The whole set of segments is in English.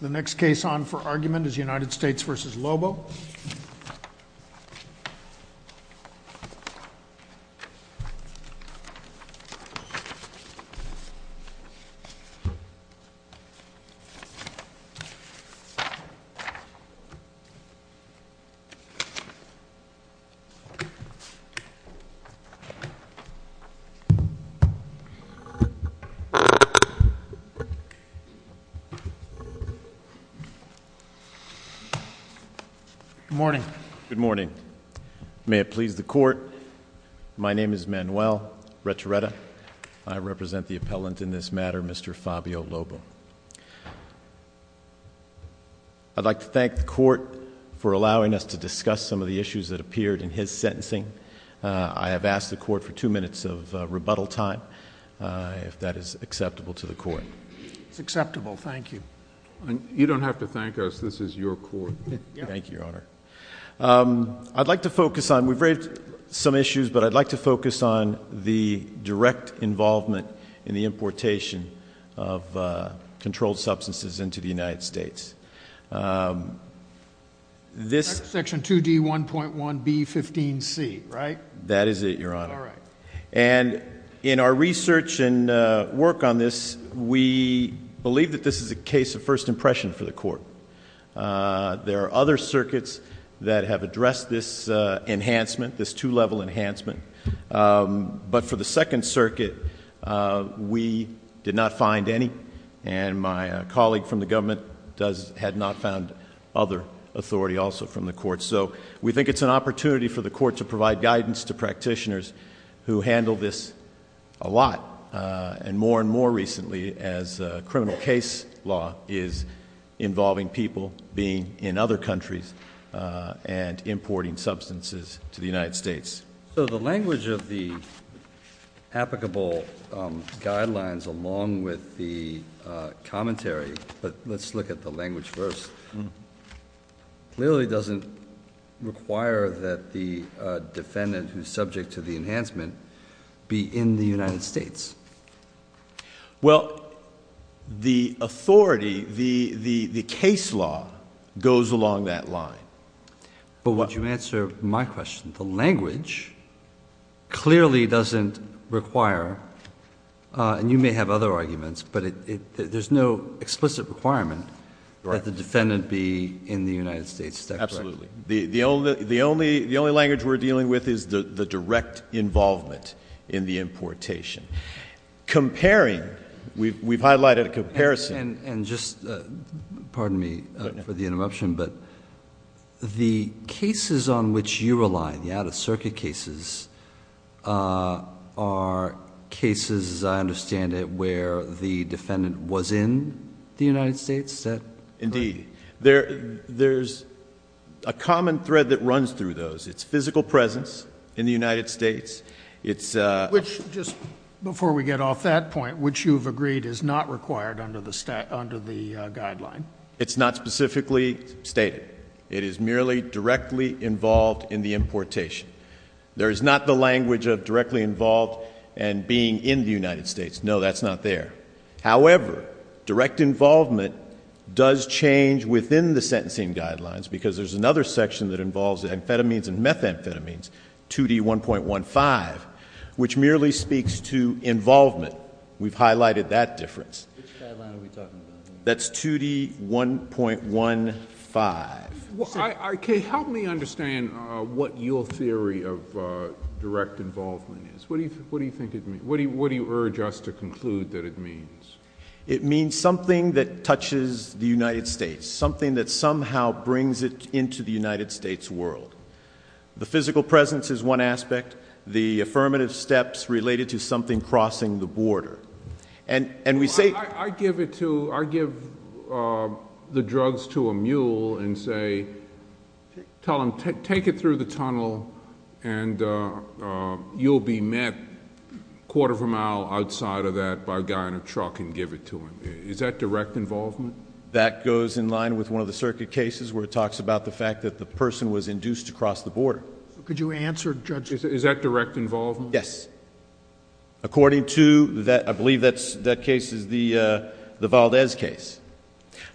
The next case on for argument is United States v. Lobo. Good morning. Good morning. May it please the court, my name is Manuel Retoretta. I represent the appellant in this matter, Mr. Fabio Lobo. I'd like to thank the court for allowing us to discuss some of the issues that appeared in his sentencing. I have asked the court for two minutes of rebuttal time, if that is acceptable to the court. It's acceptable, thank you. You don't have to thank us, this is your court. Thank you, Your Honor. I'd like to focus on, we've raised some issues, but I'd like to focus on the direct involvement in the importation of controlled substances into the United States. Section 2D1.1B15C, right? That is it, Your Honor. And in our research and work on this, we believe that this is a case of first impression for the court. There are other circuits that have addressed this enhancement, this two-level enhancement. But for the Second Circuit, we did not find any. And my colleague from the government had not found other authority also from the court. So we think it's an opportunity for the court to provide guidance to practitioners who handle this a lot. And more and more recently as criminal case law is involving people being in other countries and importing substances to the United States. So the language of the applicable guidelines along with the commentary, but let's look at the language first, clearly doesn't require that the defendant who's subject to the enhancement be in the United States. Well, the authority, the case law goes along that line. But would you answer my question? The language clearly doesn't require, and you may have other arguments, but there's no explicit requirement that the defendant be in the United States. Absolutely. The only language we're dealing with is the direct involvement in the importation. Comparing, we've highlighted a comparison. And just, pardon me for the interruption, but the cases on which you rely, the out-of-circuit cases, are cases, as I understand it, where the defendant was in the United States? Indeed. There's a common thread that runs through those. It's physical presence in the United States. Which, just before we get off that point, which you've agreed is not required under the guideline. It's not specifically stated. It is merely directly involved in the importation. There is not the language of directly involved and being in the United States. No, that's not there. However, direct involvement does change within the sentencing guidelines because there's another section that involves amphetamines and methamphetamines, 2D1.15, which merely speaks to involvement. We've highlighted that difference. Which guideline are we talking about? That's 2D1.15. Help me understand what your theory of direct involvement is. What do you think it means? What do you urge us to conclude that it means? It means something that touches the United States, something that somehow brings it into the United States world. The physical presence is one aspect. The affirmative steps related to something crossing the border. I give the drugs to a mule and say, take it through the tunnel, and you'll be met a quarter of a mile outside of that by a guy in a truck and give it to him. Is that direct involvement? That goes in line with one of the circuit cases where it talks about the fact that the person was induced to cross the border. Could you answer, Judge? Is that direct involvement? Yes. According to... I believe that case is the Valdez case.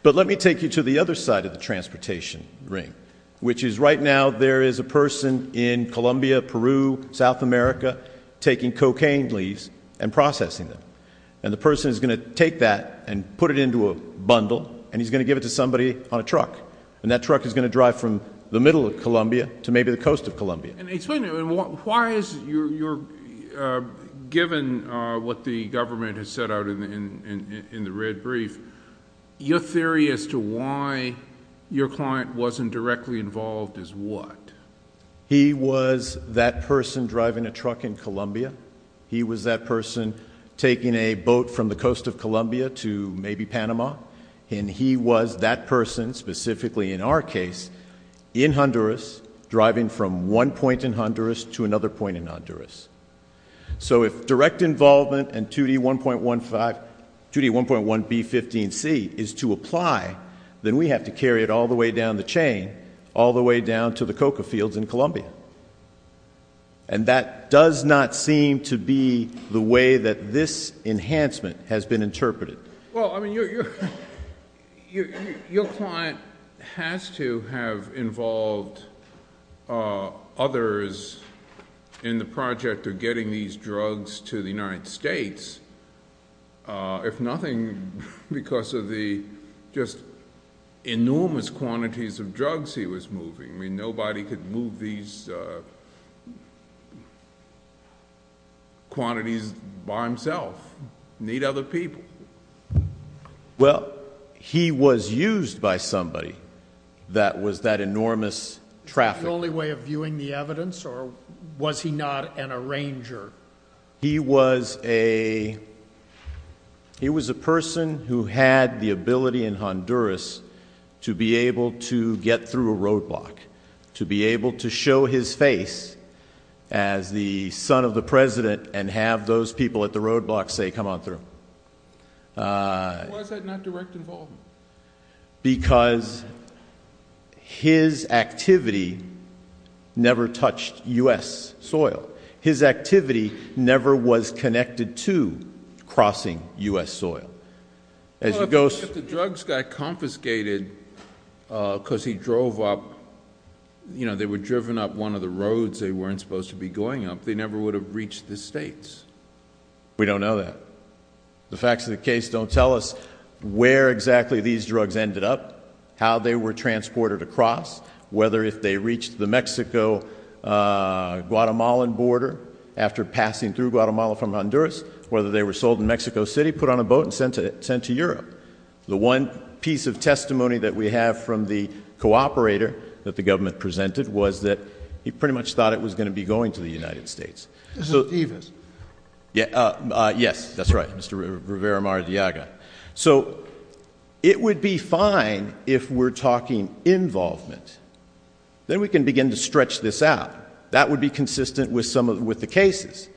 But let me take you to the other side of the transportation ring, which is right now there is a person in Colombia, Peru, South America, taking cocaine leaves and processing them. And the person is going to take that and put it into a bundle, and he's going to give it to somebody on a truck, and that truck is going to drive from the middle of Colombia to maybe the coast of Colombia. Explain to me, why is your... given what the government has set out in the red brief, your theory as to why your client wasn't directly involved is what? He was that person driving a truck in Colombia. He was that person taking a boat from the coast of Colombia to maybe Panama. And he was that person, specifically in our case, in Honduras, driving from one point in Honduras to another point in Honduras. So if direct involvement and 2D1.1B15C is to apply, then we have to carry it all the way down the chain, and that does not seem to be the way that this enhancement has been interpreted. Well, I mean, your client has to have involved others in the project of getting these drugs to the United States, if nothing because of the just enormous quantities of drugs he was moving. I mean, nobody could move these quantities by himself. Need other people. Well, he was used by somebody that was that enormous traffic. Was he the only way of viewing the evidence, or was he not an arranger? He was a person who had the ability in Honduras to be able to get through a roadblock, to be able to show his face as the son of the president and have those people at the roadblock say, come on through. Why is that not direct involvement? Because his activity never touched U.S. soil. His activity never was connected to crossing U.S. soil. Well, if the drugs got confiscated because he drove up, you know, they were driven up one of the roads they weren't supposed to be going up, they never would have reached the States. We don't know that. The facts of the case don't tell us where exactly these drugs ended up, how they were transported across, whether if they reached the Mexico-Guatemalan border after passing through Guatemala from Honduras, whether they were sold in Mexico City, put on a boat, and sent to Europe. The one piece of testimony that we have from the cooperator that the government presented was that he pretty much thought it was going to be going to the United States. This is Divas. Yes, that's right, Mr. Rivera-Maradiaga. So it would be fine if we're talking involvement. Then we can begin to stretch this out. That would be consistent with the cases.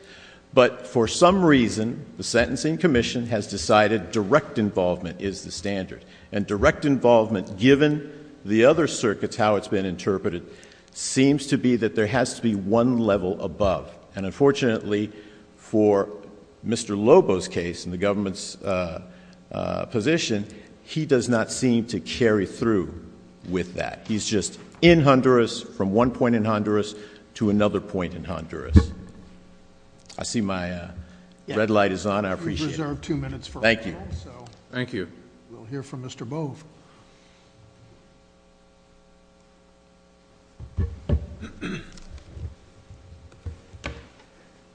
But for some reason, the Sentencing Commission has decided direct involvement is the standard. And direct involvement, given the other circuits, how it's been interpreted, seems to be that there has to be one level above. And unfortunately, for Mr. Lobo's case in the government's position, he does not seem to carry through with that. He's just in Honduras from one point in Honduras to another point in Honduras. I see my red light is on. I appreciate it. We reserve two minutes for rebuttal. Thank you. Thank you. We'll hear from Mr. Bove.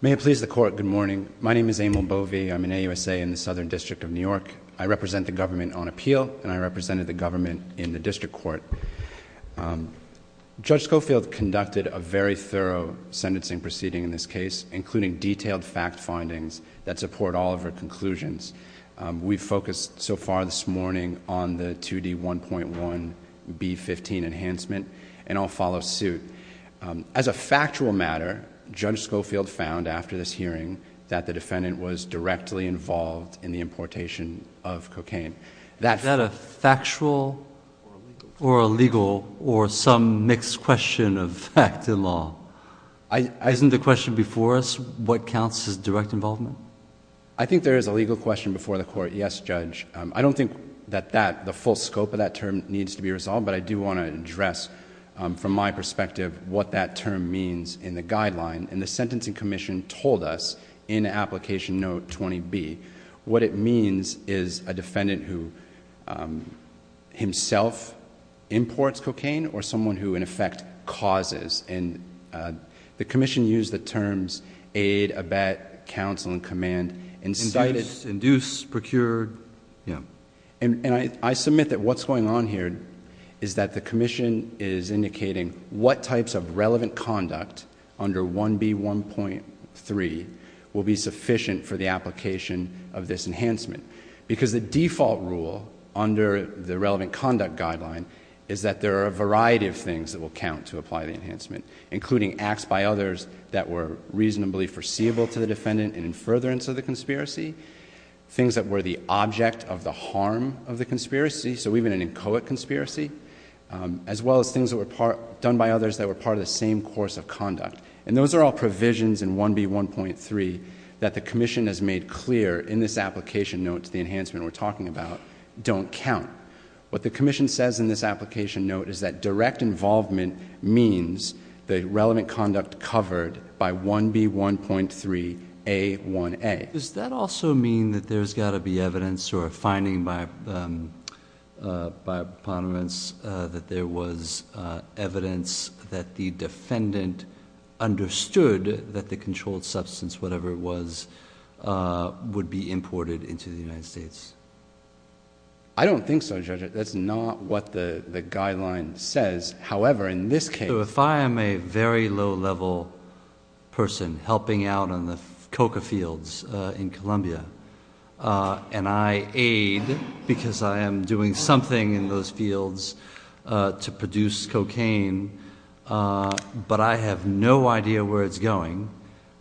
May it please the Court, good morning. My name is Emil Bove. I'm an AUSA in the Southern District of New York. I represent the government on appeal, and I represented the government in the district court. Judge Schofield conducted a very thorough sentencing proceeding in this case, including detailed fact findings that support all of her conclusions. We've focused so far this morning on the 2D1.1B15 enhancement, and I'll follow suit. As a factual matter, Judge Schofield found, after this hearing, that the defendant was directly involved in the importation of cocaine. Is that a factual or a legal or some mixed question of fact and law? Isn't the question before us, what counts as direct involvement? I think there is a legal question before the Court. Yes, Judge. I don't think that the full scope of that term needs to be resolved, but I do want to address from my perspective what that term means in the guideline. The Sentencing Commission told us in Application Note 20B, what it means is a defendant who himself imports cocaine or someone who in effect causes. The Commission used the terms aid, abet, counsel, and command. Induce, procure. I submit that what's going on here is that the Commission is indicating what types of relevant conduct under 1B1.3 will be sufficient for the application of this enhancement, because the default rule under the relevant conduct guideline is that there are a variety of things that will count to apply the enhancement, including acts by others that were reasonably foreseeable to the defendant and in furtherance of the conspiracy, things that were the object of the harm of the conspiracy, so even an inchoate conspiracy, as well as things that were done by others that were part of the same course of conduct. Those are all provisions in 1B1.3 that the Commission has made clear in this application note to the enhancement we're talking about don't count. What the Commission says in this application note is that direct involvement means the relevant conduct covered by 1B1.3A1A. Does that also mean that there's got to be evidence or a finding by preponderance that there was evidence that the defendant understood that the controlled substance, whatever it was, would be imported into the United States? I don't think so, Judge. That's not what the guideline says. However, in this case— If I am a very low-level person helping out in the coca fields in Columbia and I aid because I am doing something in those fields to produce cocaine, but I have no idea where it's going,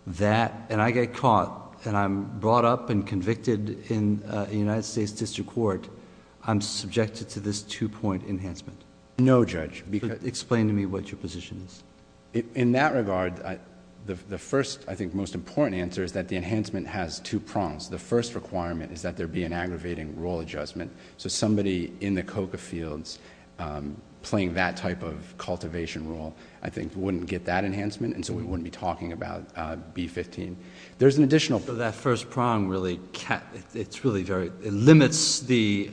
and I get caught, and I'm brought up and convicted in a United States district court, I'm subjected to this two-point enhancement. No, Judge. Explain to me what your position is. In that regard, the first, I think, most important answer is that the enhancement has two prongs. The first requirement is that there be an aggravating role adjustment, so somebody in the coca fields playing that type of cultivation role, I think, wouldn't get that enhancement, and so we wouldn't be talking about B-15. There's an additional— That first prong really limits the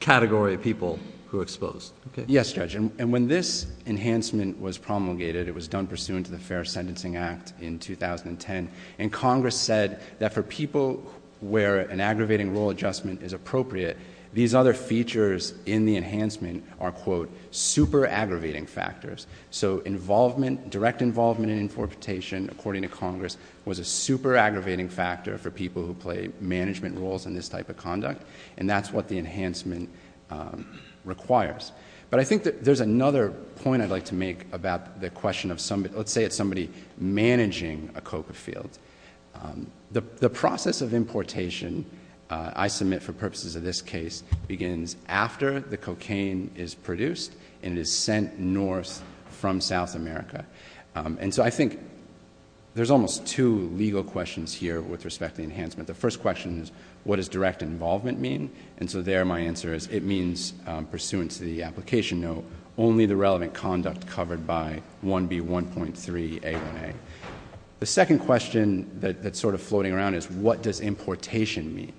category of people who are exposed. Yes, Judge, and when this enhancement was promulgated, it was done pursuant to the Fair Sentencing Act in 2010, and Congress said that for people where an aggravating role adjustment is appropriate, these other features in the enhancement are, quote, direct involvement in importation, according to Congress, was a super aggravating factor for people who play management roles in this type of conduct, and that's what the enhancement requires. But I think there's another point I'd like to make about the question of somebody— let's say it's somebody managing a coca field. The process of importation, I submit for purposes of this case, begins after the cocaine is produced and is sent north from South America, and so I think there's almost two legal questions here with respect to enhancement. The first question is what does direct involvement mean, and so there my answer is it means, pursuant to the application note, only the relevant conduct covered by 1B1.3A1A. The second question that's sort of floating around is what does importation mean,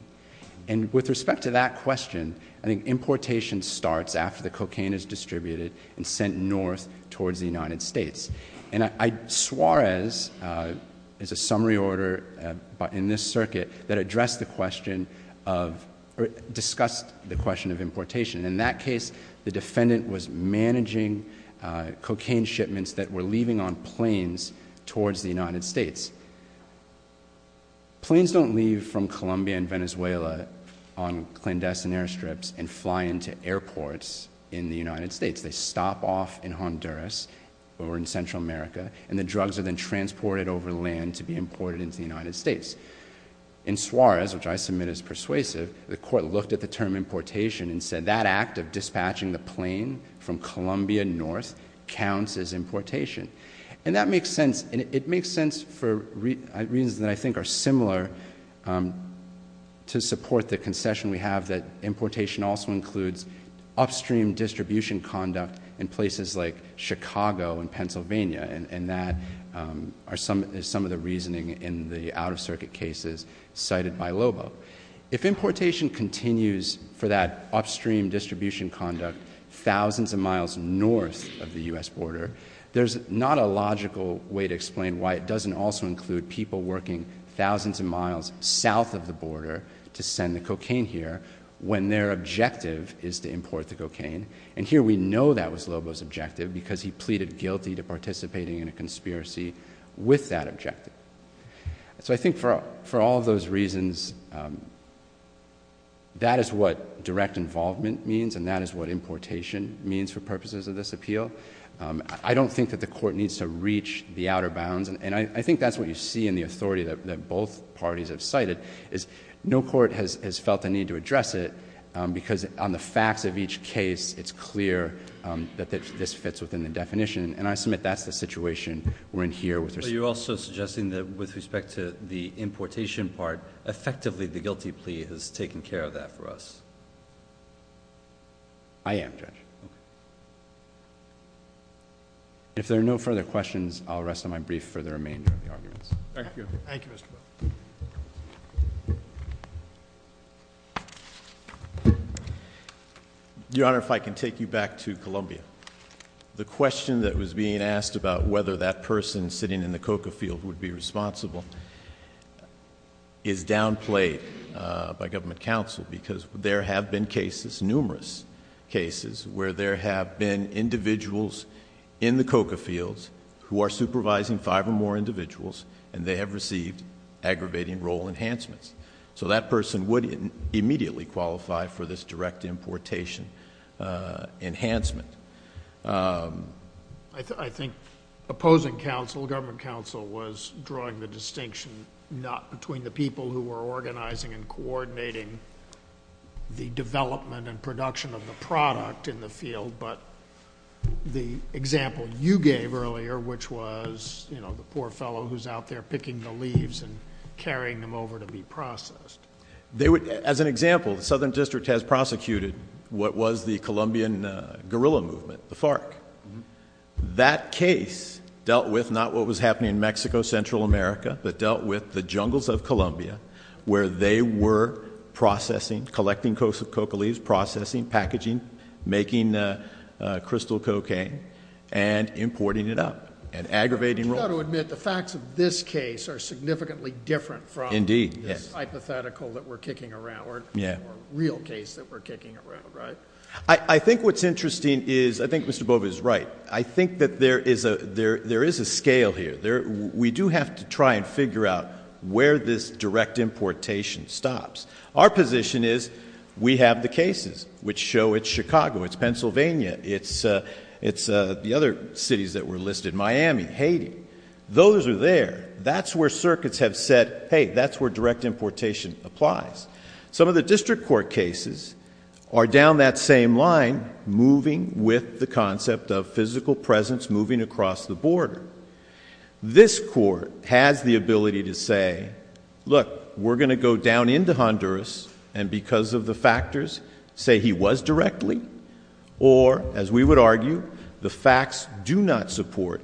and with respect to that question, I think importation starts after the cocaine is distributed and sent north towards the United States, and Suarez is a summary order in this circuit that addressed the question of— or discussed the question of importation. In that case, the defendant was managing cocaine shipments that were leaving on planes towards the United States. Planes don't leave from Colombia and Venezuela on clandestine airstrips and fly into airports in the United States. They stop off in Honduras or in Central America, and the drugs are then transported over land to be imported into the United States. In Suarez, which I submit is persuasive, the court looked at the term importation and said that act of dispatching the plane from Colombia north counts as importation, and that makes sense, and it makes sense for reasons that I think are similar to support the concession we have that importation also includes upstream distribution conduct in places like Chicago and Pennsylvania, and that is some of the reasoning in the out-of-circuit cases cited by Lobo. If importation continues for that upstream distribution conduct thousands of miles north of the U.S. border, there's not a logical way to explain why it doesn't also include people working thousands of miles south of the border to send the cocaine here when their objective is to import the cocaine, and here we know that was Lobo's objective because he pleaded guilty to participating in a conspiracy with that objective. So I think for all those reasons, that is what direct involvement means and that is what importation means for purposes of this appeal. I don't think that the court needs to reach the outer bounds, and I think that's what you see in the authority that both parties have cited, is no court has felt the need to address it because on the facts of each case, it's clear that this fits within the definition, and I submit that's the situation we're in here with respect to... But you're also suggesting that with respect to the importation part, effectively the guilty plea has taken care of that for us. I am, Judge. Okay. If there are no further questions, I'll rest on my brief for the remainder of the arguments. Thank you. Thank you, Mr. Butler. Your Honor, if I can take you back to Columbia. The question that was being asked about whether that person sitting in the coca field would be responsible is downplayed by government counsel because there have been cases, numerous cases, where there have been individuals in the coca fields who are supervising five or more individuals and they have received aggravating role enhancements. So that person would immediately qualify for this direct importation enhancement. I think opposing counsel, government counsel, was drawing the distinction not between the people who were organizing and coordinating the development and production of the product in the field, but the example you gave earlier, which was the poor fellow who's out there picking the leaves and carrying them over to be processed. As an example, the Southern District has prosecuted what was the Colombian guerrilla movement, the FARC. That case dealt with not what was happening in Mexico, Central America, but dealt with the jungles of Colombia where they were processing, collecting coca leaves, processing, packaging, making crystal cocaine and importing it up and aggravating role. You've got to admit the facts of this case are significantly different from... Indeed.... this hypothetical that we're kicking around, or real case that we're kicking around, right? I think what's interesting is, I think Mr. Bova is right. I think that there is a scale here. We do have to try and figure out where this direct importation stops. Our position is, we have the cases which show it's Chicago, it's Pennsylvania, it's the other cities that were listed, Miami, Haiti. Those are there. That's where circuits have said, hey, that's where direct importation applies. Some of the district court cases are down that same line, moving with the concept of physical presence, moving across the border. This court has the ability to say, look, we're going to go down into Honduras and because of the factors, say he was directly, or, as we would argue, the facts do not support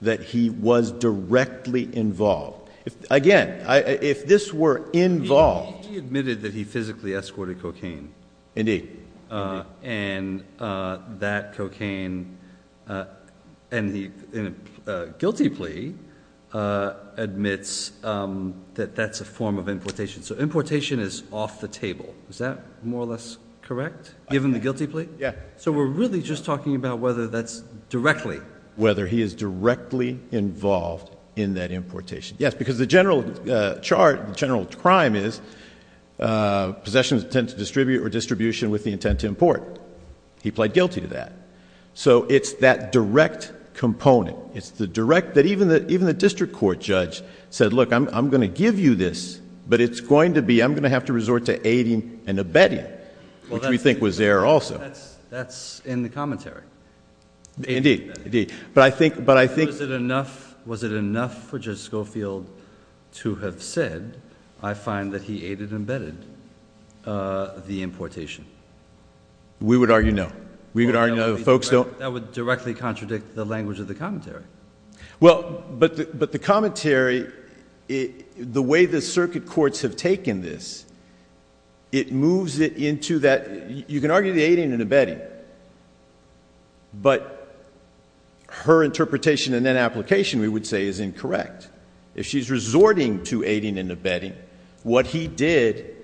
that he was directly involved. Again, if this were involved... He admitted that he physically escorted cocaine. Indeed. And that cocaine, and the guilty plea admits that that's a form of importation. So importation is off the table. Is that more or less correct, given the guilty plea? Yeah. So we're really just talking about whether that's directly. Whether he is directly involved in that importation. Yes, because the general chart, the general crime is possessions tend to distribute or distribution with the intent to import. He pled guilty to that. So it's that direct component. It's the direct... Even the district court judge said, look, I'm going to give you this, but it's going to be... I'm going to have to resort to aiding and abetting, which we think was there also. That's in the commentary. Indeed. Indeed. But I think... Was it enough for Judge Schofield to have said, I find that he aided and abetted the importation? We would argue no. We would argue no. The folks don't... That would directly contradict the language of the commentary. Well, but the commentary, the way the circuit courts have taken this, it moves it into that... You can argue the aiding and abetting, but her interpretation and then application, we would say, is incorrect. If she's resorting to aiding and abetting, what he did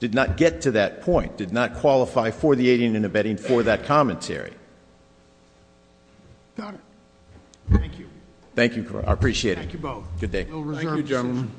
did not get to that point, did not qualify for the aiding and abetting for that commentary. Got it. Thank you. Thank you. I appreciate it. Thank you both. Good day. Thank you, gentlemen.